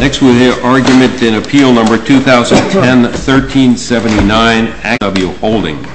Next we will hear argument in Appeal No. 2010-1379, SSW HOLDING. Appeal No. 1010-1379, SSW HOLDING.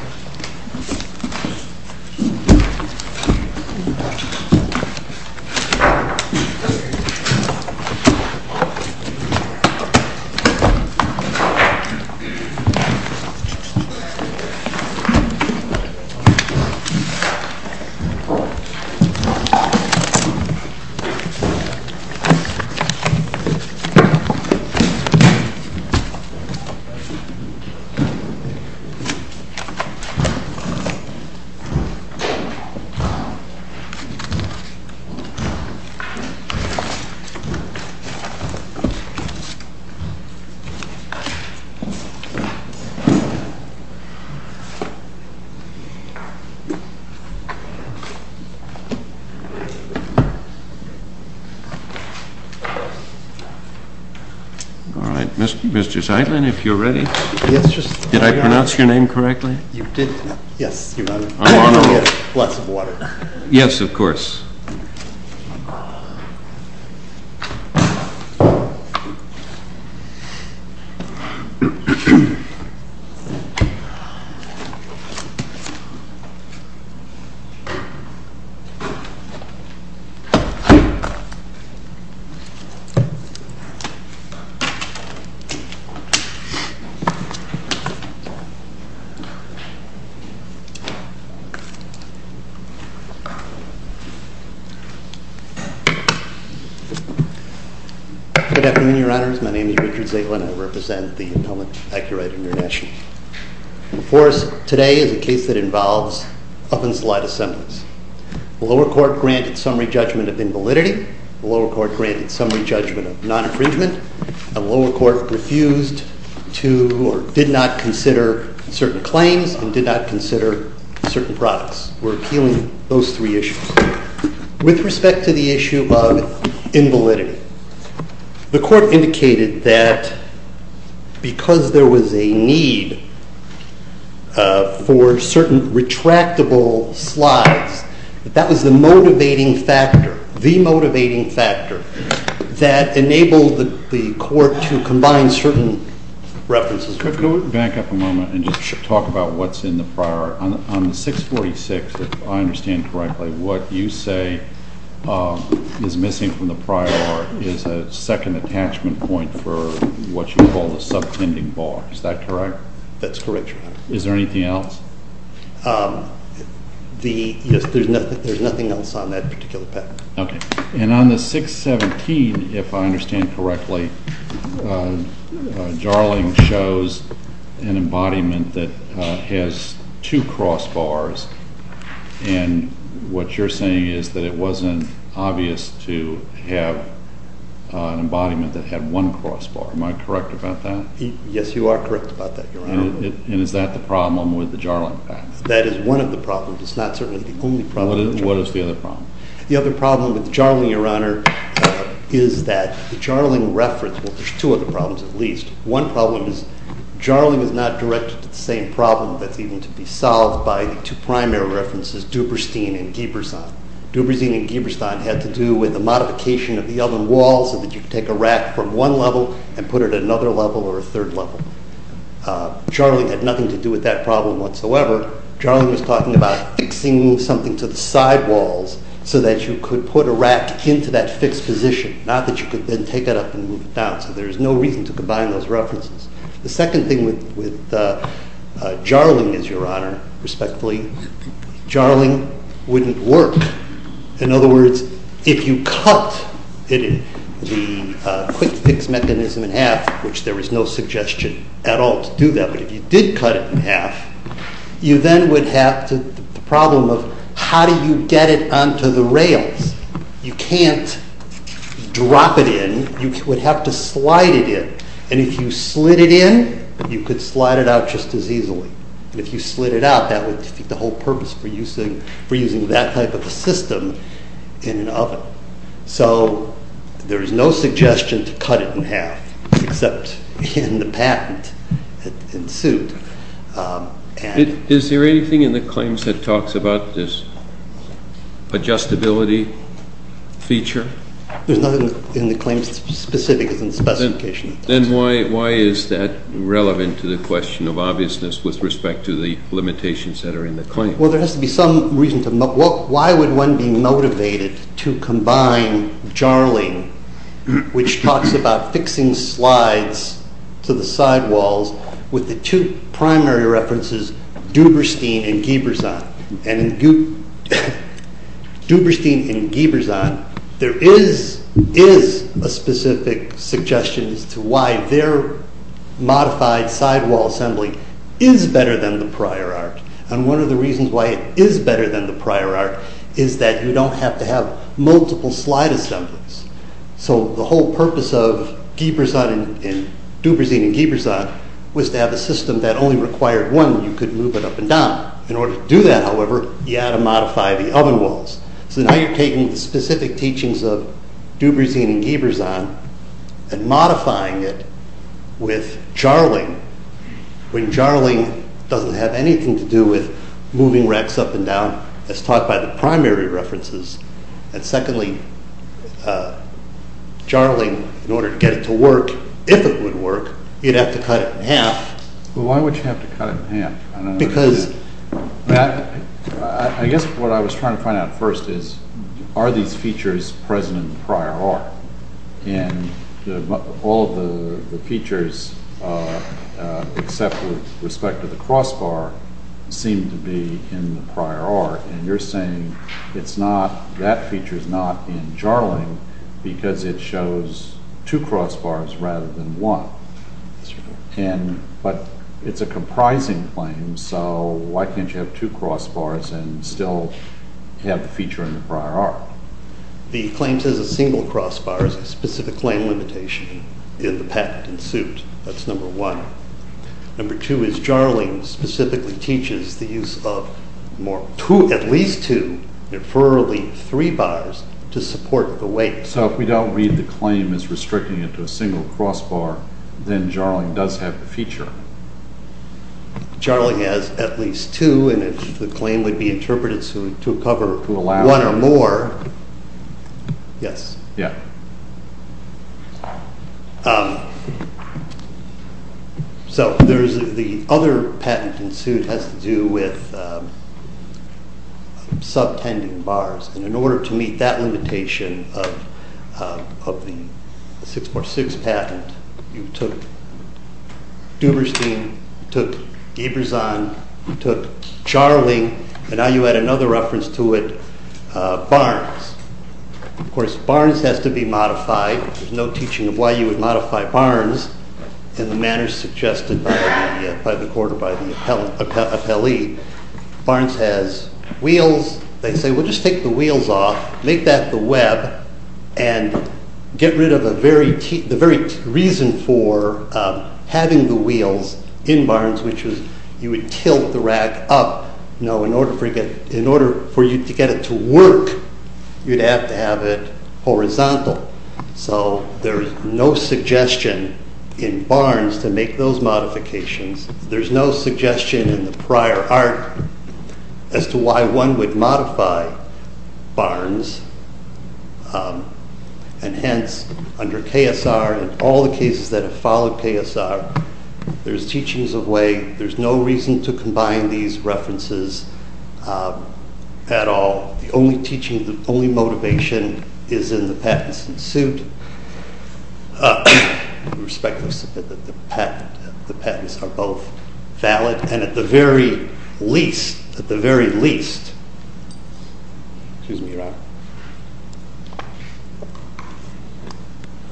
All right, Mr. Zeitlin, if you're ready. Did I pronounce your name correctly? You did. Yes, Your Honor. I'm going to get lots of water. Yes, of course. Good afternoon, Your Honors. My name is Richard Zeitlin. I represent the Appellant Accurate International. Before us today is a case that involves up-and-slide assemblance. The lower court granted summary judgment of invalidity. The lower court granted summary judgment of non-infringement. The lower court refused to or did not consider certain claims and did not consider certain products. We're appealing those three issues. With respect to the issue of invalidity, the court indicated that because there was a need for certain retractable slides, that was the motivating factor, the motivating factor that enabled the court to combine certain references. Could we back up a moment and just talk about what's in the prior art? On the 646, if I understand correctly, what you say is missing from the prior art is a second attachment point for what you call the subtending bar. Is that correct? That's correct, Your Honor. Is there anything else? Yes, there's nothing else on that particular pattern. Okay. And on the 617, if I understand correctly, Jarling shows an embodiment that has two crossbars, and what you're saying is that it wasn't obvious to have an embodiment that had one crossbar. Am I correct about that? Yes, you are correct about that, Your Honor. And is that the problem with the Jarling pattern? That is one of the problems. It's not certainly the only problem. What is the other problem? The other problem with Jarling, Your Honor, is that the Jarling reference, well, there's two other problems at least. One problem is Jarling is not directed to the same problem that's even to be solved by the two primary references, Duberstein and Giberson. Duberstein and Giberson had to do with the modification of the oven wall so that you could take a rack from one level and put it at another level or a third level. Jarling had nothing to do with that problem whatsoever. Jarling was talking about fixing something to the side walls so that you could put a rack into that fixed position, not that you could then take it up and move it down. So there's no reason to combine those references. The second thing with Jarling is, Your Honor, respectfully, Jarling wouldn't work. In other words, if you cut the quick-fix mechanism in half, which there is no suggestion at all to do that, but if you did cut it in half, you then would have the problem of how do you get it onto the rails? You can't drop it in. You would have to slide it in. And if you slid it in, you could slide it out just as easily. And if you slid it out, that would defeat the whole purpose for using that type of a system in an oven. So there is no suggestion to cut it in half except in the patent that ensued. Is there anything in the claims that talks about this adjustability feature? There's nothing in the claims specific as in the specification. Then why is that relevant to the question of obviousness with respect to the limitations that are in the claims? Well, there has to be some reason. Why would one be motivated to combine Jarling, which talks about fixing slides to the sidewalls, with the two primary references, Duberstein and Gieberson? And in Duberstein and Gieberson, there is a specific suggestion as to why their modified sidewall assembly is better than the prior art. And one of the reasons why it is better than the prior art is that you don't have to have multiple slide assemblies. So the whole purpose of Duberstein and Gieberson was to have a system that only required one. You could move it up and down. In order to do that, however, you had to modify the oven walls. So now you're taking the specific teachings of Duberstein and Gieberson and modifying it with Jarling, when Jarling doesn't have anything to do with moving racks up and down as taught by the primary references. And secondly, Jarling, in order to get it to work, if it would work, you'd have to cut it in half. Why would you have to cut it in half? I guess what I was trying to find out first is, are these features present in the prior art? And all of the features, except with respect to the crossbar, seem to be in the prior art. And you're saying that feature is not in Jarling because it shows two crossbars rather than one. But it's a comprising claim, so why can't you have two crossbars and still have the feature in the prior art? The claim says a single crossbar is a specific claim limitation in the patent in suit. That's number one. Number two is Jarling specifically teaches the use of at least two, preferably three bars, to support the weight. So if we don't read the claim as restricting it to a single crossbar, then Jarling does have the feature. Jarling has at least two, and if the claim would be interpreted to cover one or more, yes. So the other patent in suit has to do with subtending bars. And in order to meet that limitation of the 646 patent, you took Duberstein, you took Giberson, you took Jarling, and now you add another reference to it, Barnes. Of course, Barnes has to be modified. There's no teaching of why you would modify Barnes in the manner suggested by the court or by the appellee. Barnes has wheels. They say, well, just take the wheels off, make that the web, and get rid of the very reason for having the wheels in Barnes, which is you would tilt the rack up. In order for you to get it to work, you'd have to have it horizontal. So there's no suggestion in Barnes to make those modifications. There's no suggestion in the prior art as to why one would modify Barnes. And hence, under KSR and all the cases that have followed KSR, there's teachings of why there's no reason to combine these references at all. The only teaching, the only motivation is in the patents in suit. With respect to the patent, the patents are both valid. And at the very least, at the very least,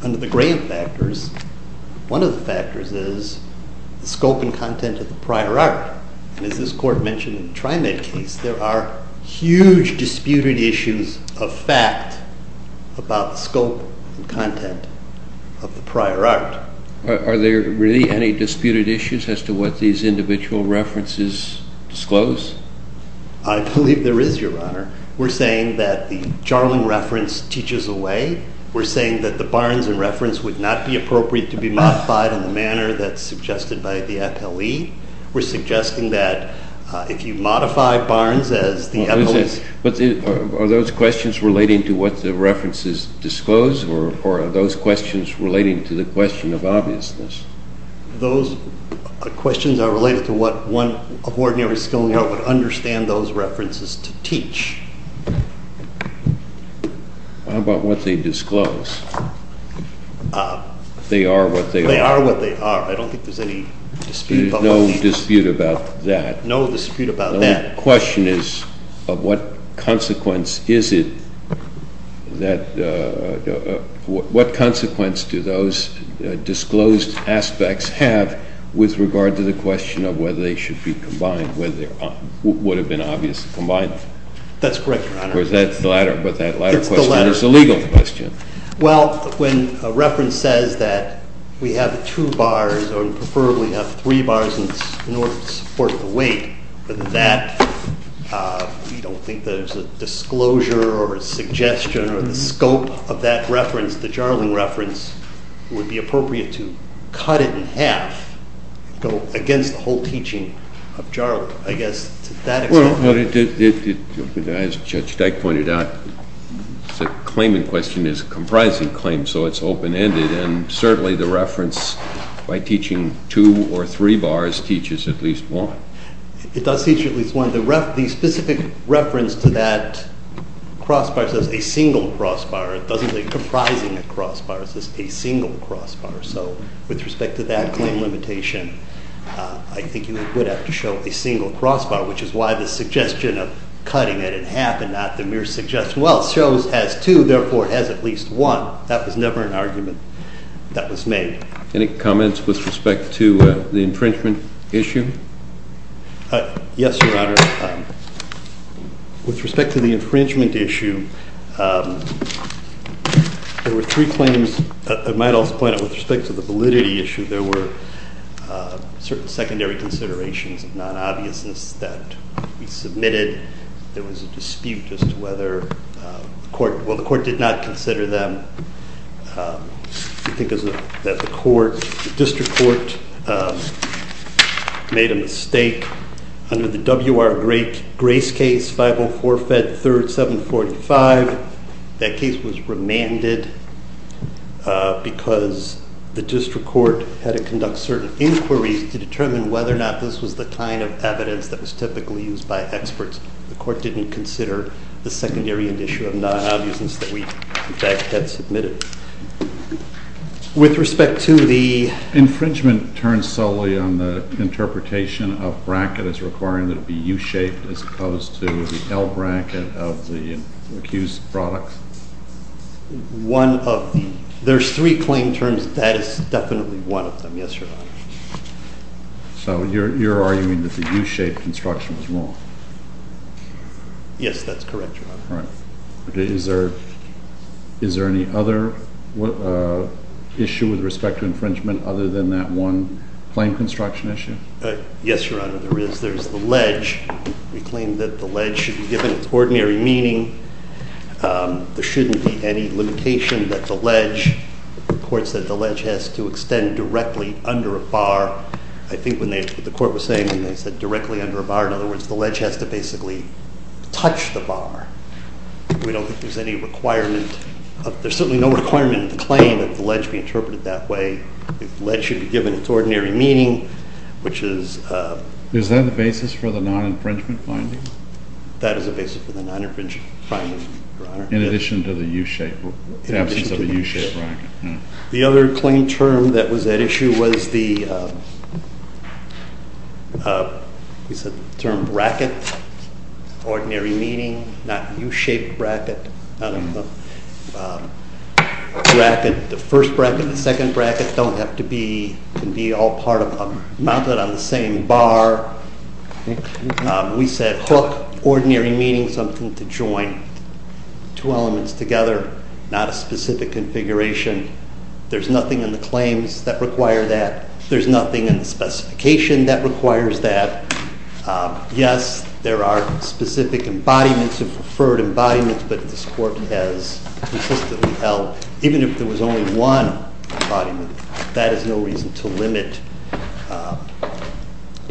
under the grant factors, one of the factors is the scope and content of the prior art. And as this court mentioned in the TriMet case, there are huge disputed issues of fact about the scope and content of the prior art. Are there really any disputed issues as to what these individual references disclose? I believe there is, Your Honor. We're saying that the Jarling reference teaches away. We're saying that the Barnes in reference would not be appropriate to be modified in the manner that's suggested by the appellee. We're suggesting that if you modify Barnes as the appellee's... Are those questions relating to what the references disclose, or are those questions relating to the question of obviousness? Those questions are related to what one of ordinary skilling would understand those references to teach. How about what they disclose? They are what they are. They are what they are. I don't think there's any dispute about that. There is no dispute about that. No dispute about that. The only question is of what consequence is it that... What consequence do those disclosed aspects have with regard to the question of whether they should be combined, whether it would have been obvious to combine them? That's correct, Your Honor. Or is that the latter question? It's the latter. It's the legal question. Well, when a reference says that we have two bars or preferably have three bars in order to support the weight, but that we don't think there's a disclosure or a suggestion or the scope of that reference, the Jarling reference, it would be appropriate to cut it in half and go against the whole teaching of Jarling. I guess to that extent... As Judge Dyke pointed out, the claim in question is a comprising claim, so it's open-ended, and certainly the reference by teaching two or three bars teaches at least one. It does teach at least one. The specific reference to that crossbar says a single crossbar. It doesn't say comprising a crossbar. It says a single crossbar. So with respect to that claim limitation, I think you would have to show a single crossbar, which is why the suggestion of cutting it in half and not the mere suggestion, well, it shows it has two, therefore it has at least one. That was never an argument that was made. Any comments with respect to the infringement issue? Yes, Your Honor. With respect to the infringement issue, there were three claims. I might also point out, with respect to the validity issue, there were certain secondary considerations of non-obviousness that we submitted. There was a dispute as to whether the court, well, the court did not consider them. We think that the court, the district court, made a mistake. Under the WR Grace case, 504-Fed-3rd-745, that case was remanded because the district court had to conduct certain inquiries to determine whether or not this was the kind of evidence that was typically used by experts. The court didn't consider the secondary issue of non-obviousness that we, in fact, had submitted. With respect to the- Infringement turns solely on the interpretation of bracket as requiring that it be U-shaped as opposed to the L-bracket of the accused products. One of the- There's three claim terms. That is definitely one of them, yes, Your Honor. So you're arguing that the U-shaped construction was wrong? Yes, that's correct, Your Honor. All right. Is there any other issue with respect to infringement other than that one claim construction issue? Yes, Your Honor, there is. There's the ledge. We claim that the ledge should be given its ordinary meaning. There shouldn't be any limitation that the ledge- The court said the ledge has to extend directly under a bar. I think what the court was saying when they said directly under a bar, in other words, the ledge has to basically touch the bar. We don't think there's any requirement- There's certainly no requirement in the claim that the ledge be interpreted that way. The ledge should be given its ordinary meaning, which is- Is that the basis for the non-infringement finding? That is the basis for the non-infringement finding, Your Honor. In addition to the U-shaped- In addition to the U-shaped bracket. The other claim term that was at issue was the- We said the term bracket, ordinary meaning, not U-shaped bracket. The first bracket and the second bracket don't have to be- Can be all part of a- Mounted on the same bar. We said hook, ordinary meaning, something to join two elements together, not a specific configuration. There's nothing in the claims that require that. There's nothing in the specification that requires that. Yes, there are specific embodiments and preferred embodiments, but this Court has consistently held, even if there was only one embodiment, that is no reason to limit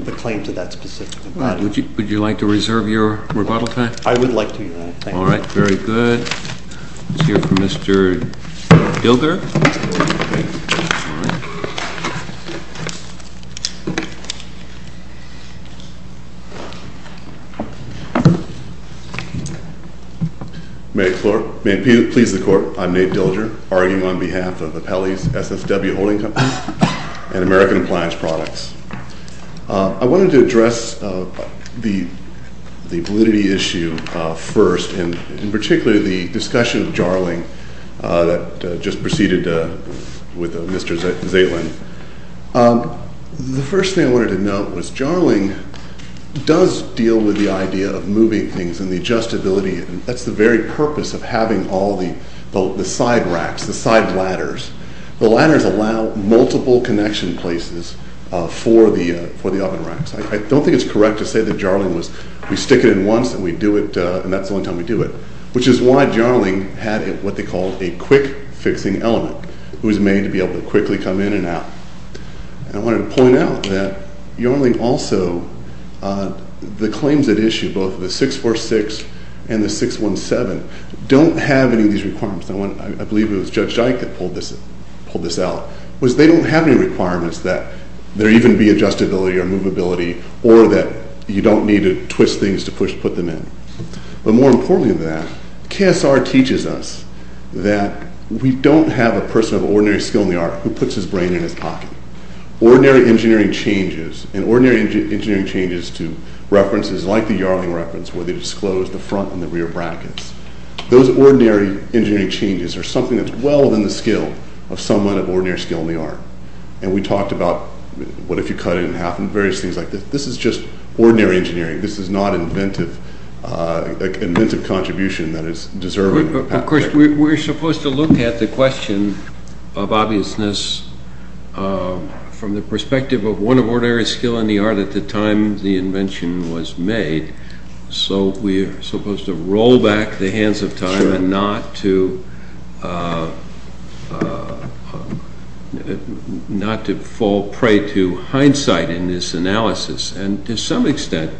the claim to that specific embodiment. Would you like to reserve your rebuttal time? I would like to, Your Honor. Thank you. All right. Very good. Let's hear from Mr. Gilder. May it please the Court, I'm Nate Gilder, arguing on behalf of the Pelley's SSW Holding Company and American Appliance Products. I wanted to address the validity issue first, and in particular the discussion of Jarling that just proceeded with Mr. Zaitlin. The first thing I wanted to note was Jarling does deal with the idea of moving things and the adjustability, and that's the very purpose of having all the side racks, the side ladders. The ladders allow multiple connection places for the oven racks. I don't think it's correct to say that Jarling was we stick it in once and we do it, and that's the only time we do it, which is why Jarling had what they called a quick-fixing element. It was made to be able to quickly come in and out. I wanted to point out that Jarling also, the claims at issue, both the 646 and the 617, don't have any of these requirements. I believe it was Judge Dyke that pulled this out, was they don't have any requirements that there even be adjustability or movability or that you don't need to twist things to put them in. But more importantly than that, KSR teaches us that we don't have a person of ordinary skill in the art who puts his brain in his pocket. Ordinary engineering changes, and ordinary engineering changes to references like the Jarling reference where they disclose the front and the rear brackets. Those ordinary engineering changes are something that's well within the skill of someone of ordinary skill in the art. And we talked about what if you cut it in half and various things like this. This is just ordinary engineering. This is not an inventive contribution that is deserving. Of course, we're supposed to look at the question of obviousness from the perspective of one of ordinary skill in the art at the time the invention was made. So we're supposed to roll back the hands of time and not to fall prey to hindsight in this analysis. And to some extent,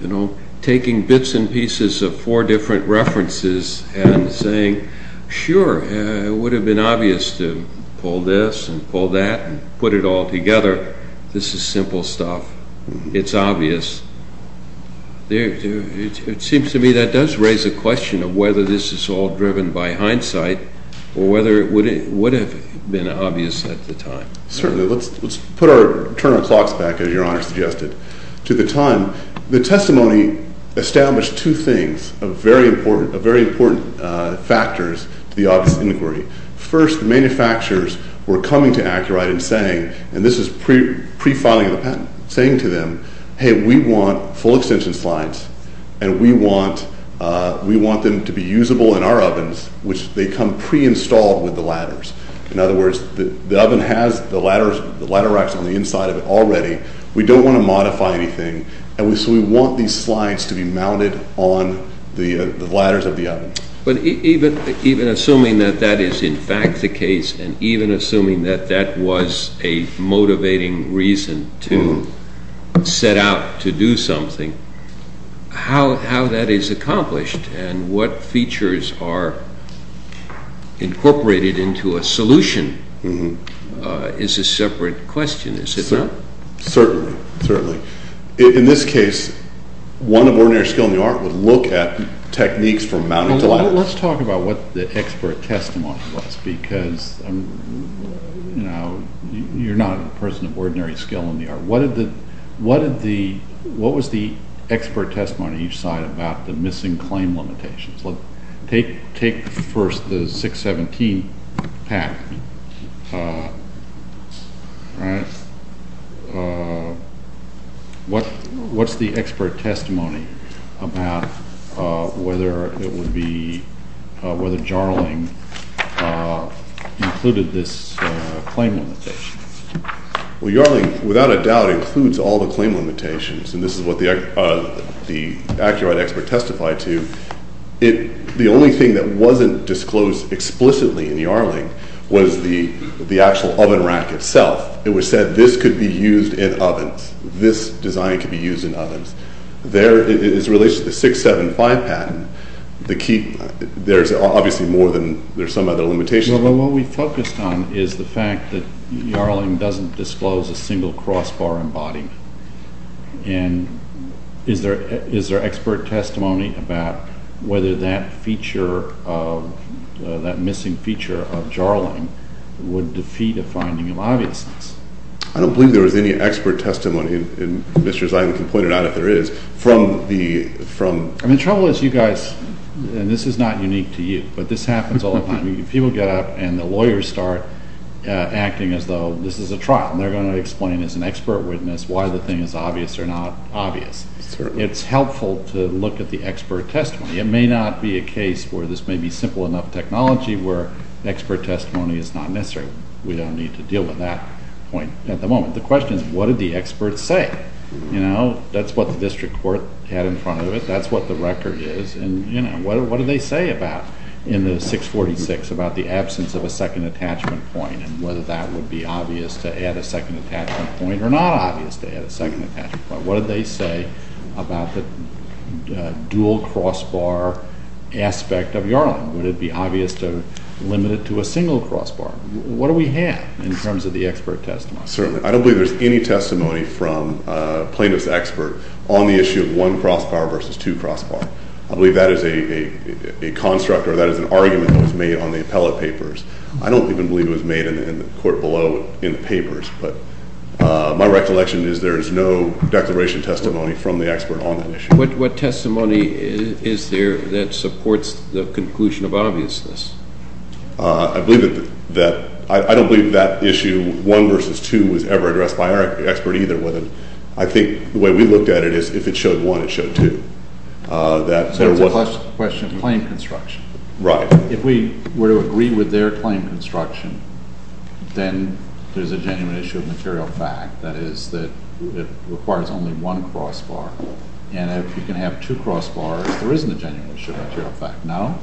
you know, taking bits and pieces of four different references and saying, sure, it would have been obvious to pull this and pull that and put it all together. This is simple stuff. It's obvious. It seems to me that does raise a question of whether this is all driven by hindsight or whether it would have been obvious at the time. Certainly, let's put our turn our clocks back, as your Honor suggested, to the time. The testimony established two things of very important factors to the obvious inquiry. First, the manufacturers were coming to AcuRite and saying, and this is pre-filing of the patent, saying to them, hey, we want full extension slides and we want them to be usable in our ovens, which they come pre-installed with the ladders. In other words, the oven has the ladder racks on the inside of it already. We don't want to modify anything. So we want these slides to be mounted on the ladders of the oven. But even assuming that that is in fact the case and even assuming that that was a motivating reason to set out to do something, how that is accomplished and what features are incorporated into a solution is a separate question. Is it not? Certainly, certainly. In this case, one of ordinary skill in the art would look at techniques from mounting to ladders. Let's talk about what the expert testimony was because you're not a person of ordinary skill in the art. What was the expert testimony you cited about the missing claim limitations? Take first the 617 patent. What's the expert testimony about whether it would be, whether Jarling included this claim limitation? Well, Jarling, without a doubt, includes all the claim limitations. And this is what the accurate expert testified to. The only thing that wasn't disclosed explicitly in Jarling was the actual oven rack itself. It was said this could be used in ovens. This design could be used in ovens. There, it's related to the 675 patent. The key, there's obviously more than, there's some other limitations. Well, what we focused on is the fact that Jarling doesn't disclose a single crossbar embodiment. And is there expert testimony about whether that feature, that missing feature of Jarling would defeat a finding of obviousness? I don't believe there was any expert testimony, and Mr. Zeiglin can point it out if there is, from the, from... And the trouble is, you guys, and this is not unique to you, but this happens all the time. People get up and the lawyers start acting as though this is a trial. And they're going to explain as an expert witness why the thing is obvious or not obvious. Certainly. It's helpful to look at the expert testimony. It may not be a case where this may be simple enough technology where expert testimony is not necessary. We don't need to deal with that point at the moment. The question is, what did the experts say? You know, that's what the district court had in front of it. That's what the record is. And, you know, what did they say about, in the 646, about the absence of a second attachment point and whether that would be obvious to add a second attachment point or not obvious to add a second attachment point? What did they say about the dual crossbar aspect of Jarling? Would it be obvious to limit it to a single crossbar? What do we have in terms of the expert testimony? Certainly. I don't believe there's any testimony from a plaintiff's expert on the issue of one crossbar versus two crossbar. I believe that is a construct or that is an argument that was made on the appellate papers. I don't even believe it was made in the court below in the papers. But my recollection is there is no declaration testimony from the expert on that issue. What testimony is there that supports the conclusion of obviousness? I believe that that – I don't believe that issue, one versus two, was ever addressed by our expert either. I think the way we looked at it is if it showed one, it showed two. So it's a question of claim construction. Right. If we were to agree with their claim construction, then there's a genuine issue of material fact, that is that it requires only one crossbar. And if you can have two crossbars, there isn't a genuine issue of material fact. No?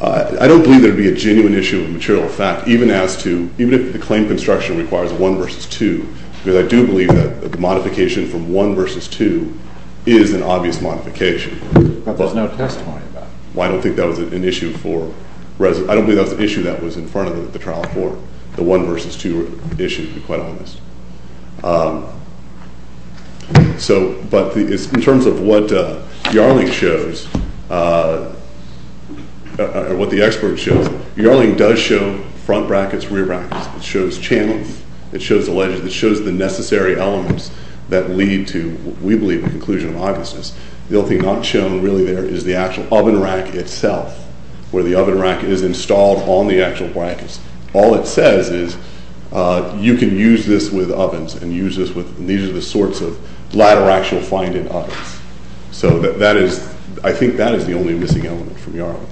I don't believe there would be a genuine issue of material fact even as to – because I do believe that the modification from one versus two is an obvious modification. But there's no testimony about it. I don't think that was an issue for – I don't believe that was an issue that was in front of the trial court, the one versus two issue, to be quite honest. But in terms of what Yarling shows, what the expert shows, Yarling does show front brackets, rear brackets. It shows channels. It shows the necessary elements that lead to, we believe, the conclusion of obviousness. The only thing not shown really there is the actual oven rack itself, where the oven rack is installed on the actual brackets. All it says is you can use this with ovens and use this with – and these are the sorts of ladder racks you'll find in ovens. So that is – I think that is the only missing element from Yarling.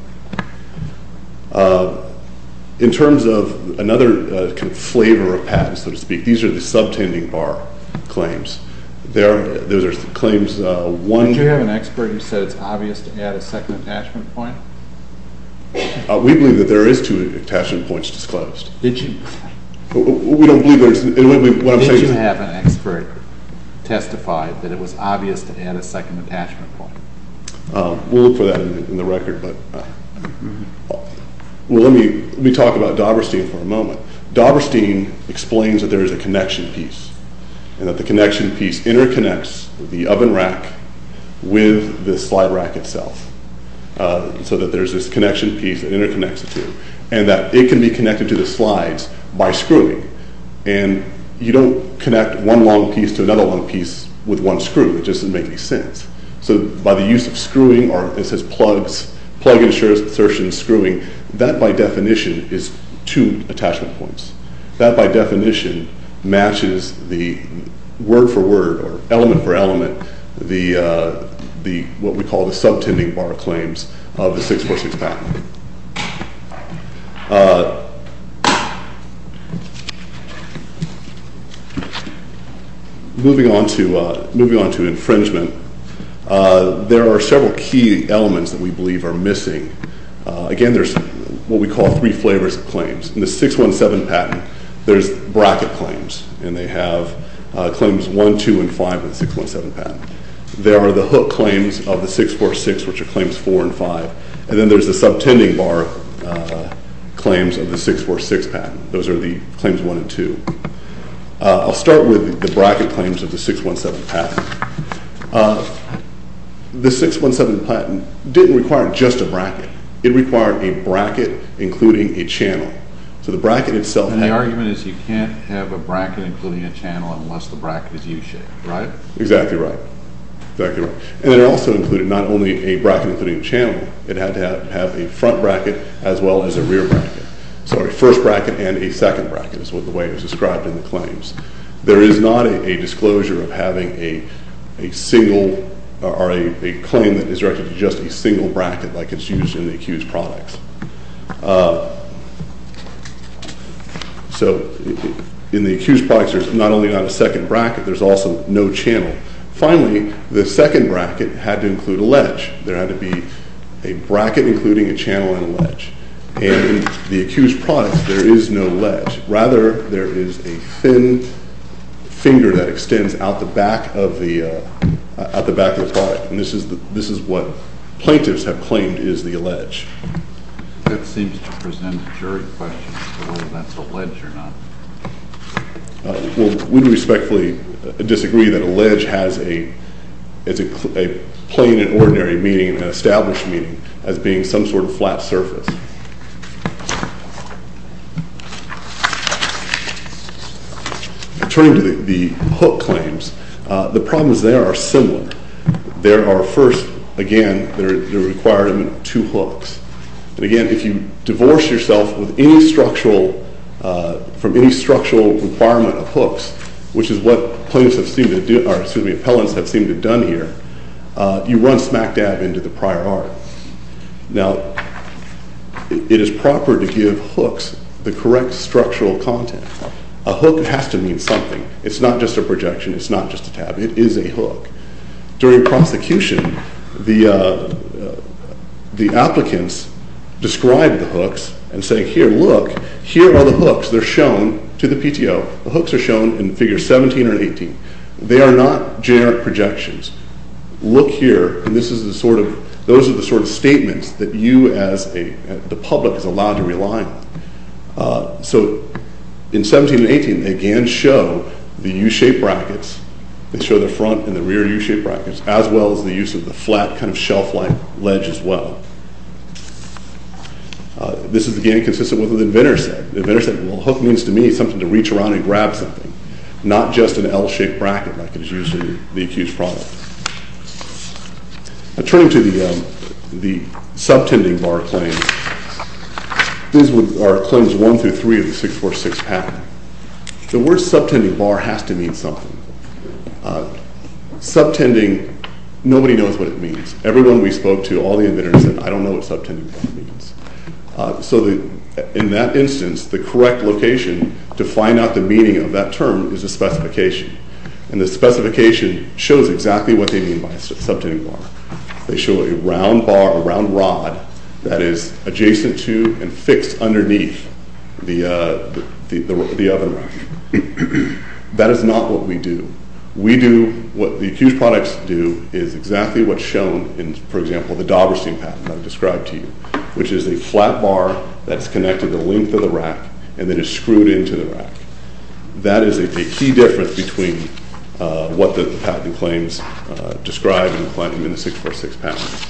In terms of another flavor of patents, so to speak, these are the subtending bar claims. Those are claims one – Did you have an expert who said it's obvious to add a second attachment point? We believe that there is two attachment points disclosed. Did you – We don't believe there's – Did you have an expert testify that it was obvious to add a second attachment point? We'll look for that in the record, but – Well, let me talk about Doberstein for a moment. Doberstein explains that there is a connection piece and that the connection piece interconnects the oven rack with the slide rack itself so that there's this connection piece that interconnects the two and that it can be connected to the slides by screwing. And you don't connect one long piece to another long piece with one screw. It doesn't make any sense. So by the use of screwing, or it says plug insertion and screwing, that, by definition, is two attachment points. That, by definition, matches the word-for-word or element-for-element, what we call the subtending bar claims of the 646 patent. Moving on to infringement, there are several key elements that we believe are missing. Again, there's what we call three flavors of claims. In the 617 patent, there's bracket claims, and they have claims 1, 2, and 5 in the 617 patent. There are the hook claims of the 646, which are claims 4 and 5. And then there's the subtending bar claims of the 646 patent. Those are the claims 1 and 2. I'll start with the bracket claims of the 617 patent. The 617 patent didn't require just a bracket. It required a bracket including a channel. So the bracket itself had- And the argument is you can't have a bracket including a channel unless the bracket is U-shaped, right? Exactly right. And it also included not only a bracket including a channel. It had to have a front bracket as well as a rear bracket. So a first bracket and a second bracket is the way it was described in the claims. There is not a disclosure of having a single or a claim that is directed to just a single bracket like it's used in the accused products. So in the accused products, there's not only not a second bracket, there's also no channel. Finally, the second bracket had to include a ledge. There had to be a bracket including a channel and a ledge. And in the accused products, there is no ledge. Rather, there is a thin finger that extends out the back of the product. And this is what plaintiffs have claimed is the ledge. That seems to present a jury question as to whether that's a ledge or not. We respectfully disagree that a ledge has a plain and ordinary meaning and an established meaning as being some sort of flat surface. Turning to the hook claims, the problems there are similar. There are first, again, the requirement of two hooks. And again, if you divorce yourself from any structural requirement of hooks, which is what plaintiffs have seemed to do— or, excuse me, appellants have seemed to have done here, you run smack dab into the prior art. Now, it is proper to give hooks the correct structural content. A hook has to mean something. It's not just a projection. It is a hook. During prosecution, the applicants describe the hooks and say, here, look, here are the hooks. They're shown to the PTO. The hooks are shown in Figure 17 or 18. They are not generic projections. Look here, and this is the sort of—those are the sort of statements that you as the public is allowed to rely on. So in 17 and 18, they again show the U-shaped brackets. They show the front and the rear U-shaped brackets, as well as the use of the flat kind of shelf-like ledge as well. This is, again, consistent with what the inventor said. The inventor said, well, a hook means to me something to reach around and grab something, not just an L-shaped bracket like is usually the accused's problem. Now, turning to the subtending bar claims, these are claims 1 through 3 of the 646 pattern. The word subtending bar has to mean something. Subtending, nobody knows what it means. Everyone we spoke to, all the inventors said, I don't know what subtending bar means. So in that instance, the correct location to find out the meaning of that term is a specification. And the specification shows exactly what they mean by subtending bar. They show a round bar, a round rod, that is adjacent to and fixed underneath the oven rack. That is not what we do. We do what the accused products do is exactly what's shown in, for example, the Doberstein patent that I described to you, which is a flat bar that is connected to the length of the rack and then is screwed into the rack. That is a key difference between what the patent claims describe and claim in the 646 pattern.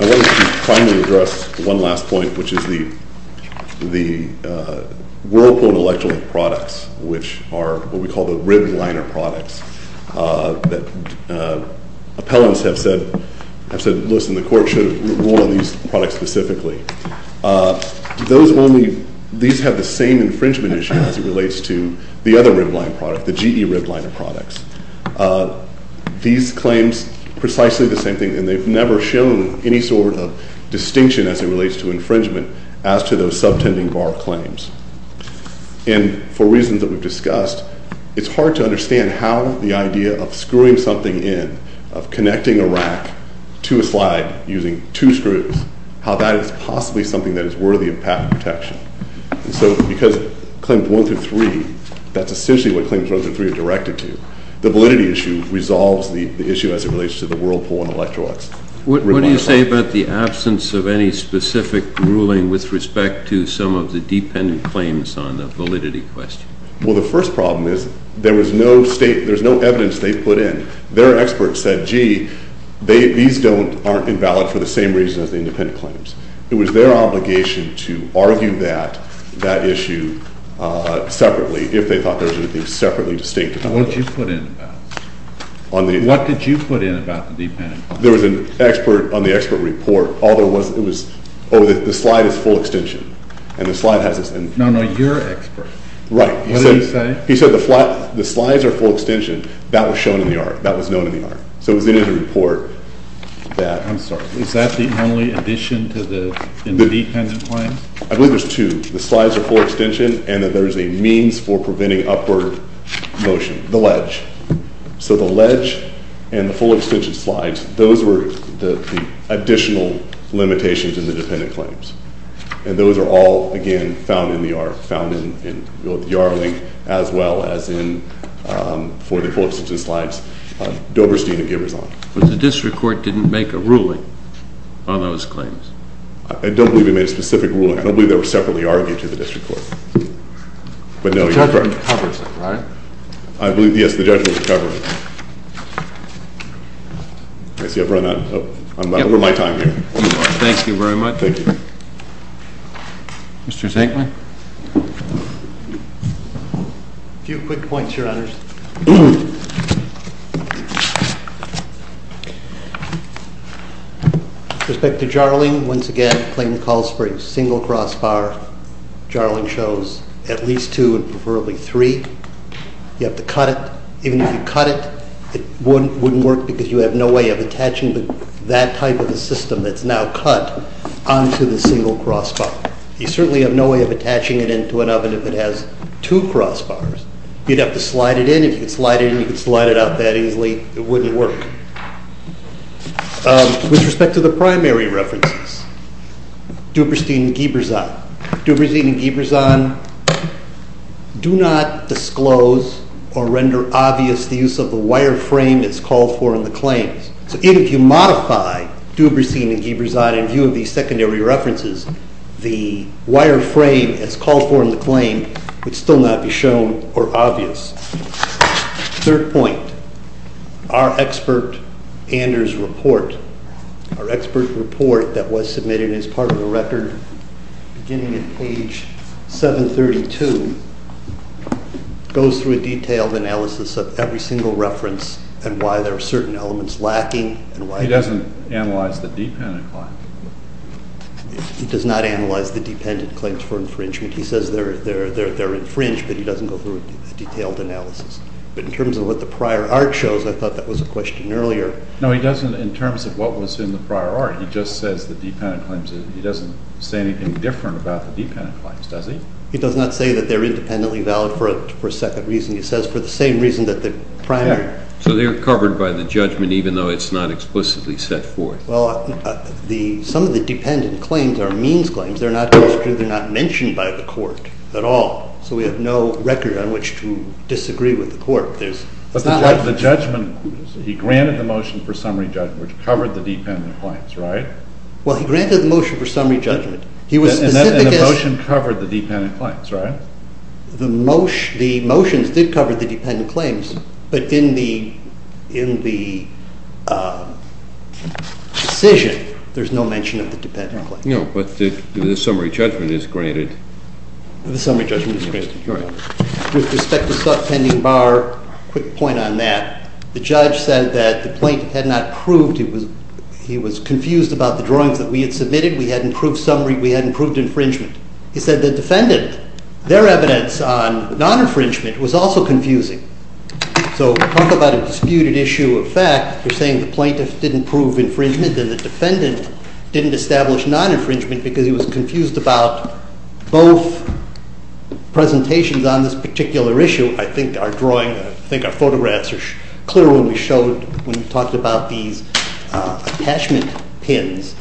I wanted to finally address one last point, which is the whirlpool electrolyte products, which are what we call the rib liner products that appellants have said, have said, listen, the court should rule on these products specifically. Those only, these have the same infringement issue as it relates to the other rib line product, the GE rib liner products. These claims, precisely the same thing, and they've never shown any sort of distinction as it relates to infringement as to those subtending bar claims. And for reasons that we've discussed, it's hard to understand how the idea of screwing something in, of connecting a rack to a slide using two screws, how that is possibly something that is worthy of patent protection. And so because Claims 1 through 3, that's essentially what Claims 1 through 3 are directed to, the validity issue resolves the issue as it relates to the whirlpool and electrolytes. What do you say about the absence of any specific ruling with respect to some of the dependent claims on the validity question? Well, the first problem is there was no state, there's no evidence they put in. Their experts said, gee, these don't, aren't invalid for the same reason as the independent claims. It was their obligation to argue that, that issue separately, if they thought there was anything separately distinct about it. What did you put in about it? What did you put in about the dependent claims? There was an expert on the expert report. All there was, it was, oh, the slide is full extension. And the slide has this. No, no, you're expert. Right. What did he say? He said the slides are full extension. That was shown in the ARC. That was known in the ARC. So it was in the report that. I'm sorry. Is that the only addition to the independent claims? I believe there's two. The slides are full extension and that there's a means for preventing upward motion, the ledge. So the ledge and the full extension slides, those were the additional limitations in the dependent claims. And those are all, again, found in the ARC. Found in the ARC link as well as in, for the full extension slides, Doberstein and Giverson. But the district court didn't make a ruling on those claims. I don't believe they made a specific ruling. I don't believe they were separately argued to the district court. But no, you're correct. The judge covers it, right? I believe, yes, the judge will cover it. I see I've run out. I'm over my time here. Thank you very much. Thank you. Mr. Zinkman? A few quick points, Your Honors. With respect to Jarling, once again, Clayton calls for a single crossbar. Jarling shows at least two and preferably three. You have to cut it. Even if you cut it, it wouldn't work because you have no way of attaching that type of a system that's now cut onto the single crossbar. You certainly have no way of attaching it into an oven if it has two crossbars. You'd have to slide it in. If you could slide it in, you could slide it out that easily. It wouldn't work. With respect to the primary references, Doberstein and Giverson. Doberstein and Giverson do not disclose or render obvious the use of the wireframe that's called for in the claims. So even if you modify Doberstein and Giverson in view of these secondary references, the wireframe that's called for in the claim would still not be shown or obvious. Third point. Our expert report that was submitted as part of the record beginning at page 732 goes through a detailed analysis of every single reference and why there are certain elements lacking. He doesn't analyze the dependent claim. He does not analyze the dependent claims for infringement. He says they're infringed, but he doesn't go through a detailed analysis. But in terms of what the prior art shows, I thought that was a question earlier. No, he doesn't in terms of what was in the prior art. He just says the dependent claims. He doesn't say anything different about the dependent claims, does he? He does not say that they're independently valid for a second reason. He says for the same reason that the primary. So they're covered by the judgment even though it's not explicitly set forth. Well, some of the dependent claims are means claims. They're not going through. They're not mentioned by the court at all. So we have no record on which to disagree with the court. But the judgment, he granted the motion for summary judgment which covered the dependent claims, right? Well, he granted the motion for summary judgment. And the motion covered the dependent claims, right? The motions did cover the dependent claims, but in the decision there's no mention of the dependent claims. No, but the summary judgment is granted. The summary judgment is granted. All right. With respect to the pending bar, quick point on that. The judge said that the plaintiff had not proved he was confused about the drawings that we had submitted. We hadn't proved summary. We hadn't proved infringement. He said the defendant, their evidence on non-infringement was also confusing. So talk about a disputed issue of fact. You're saying the plaintiff didn't prove infringement and the defendant didn't establish non-infringement because he was confused about both presentations on this particular issue. I think our drawing, I think our photographs are clear when we showed, when we talked about these attachment pins.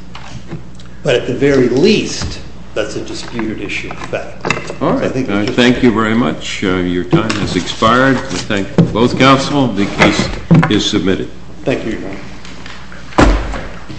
But at the very least, that's a disputed issue of fact. All right. Thank you very much. Your time has expired. We thank both counsel. The case is submitted. Thank you, Your Honor.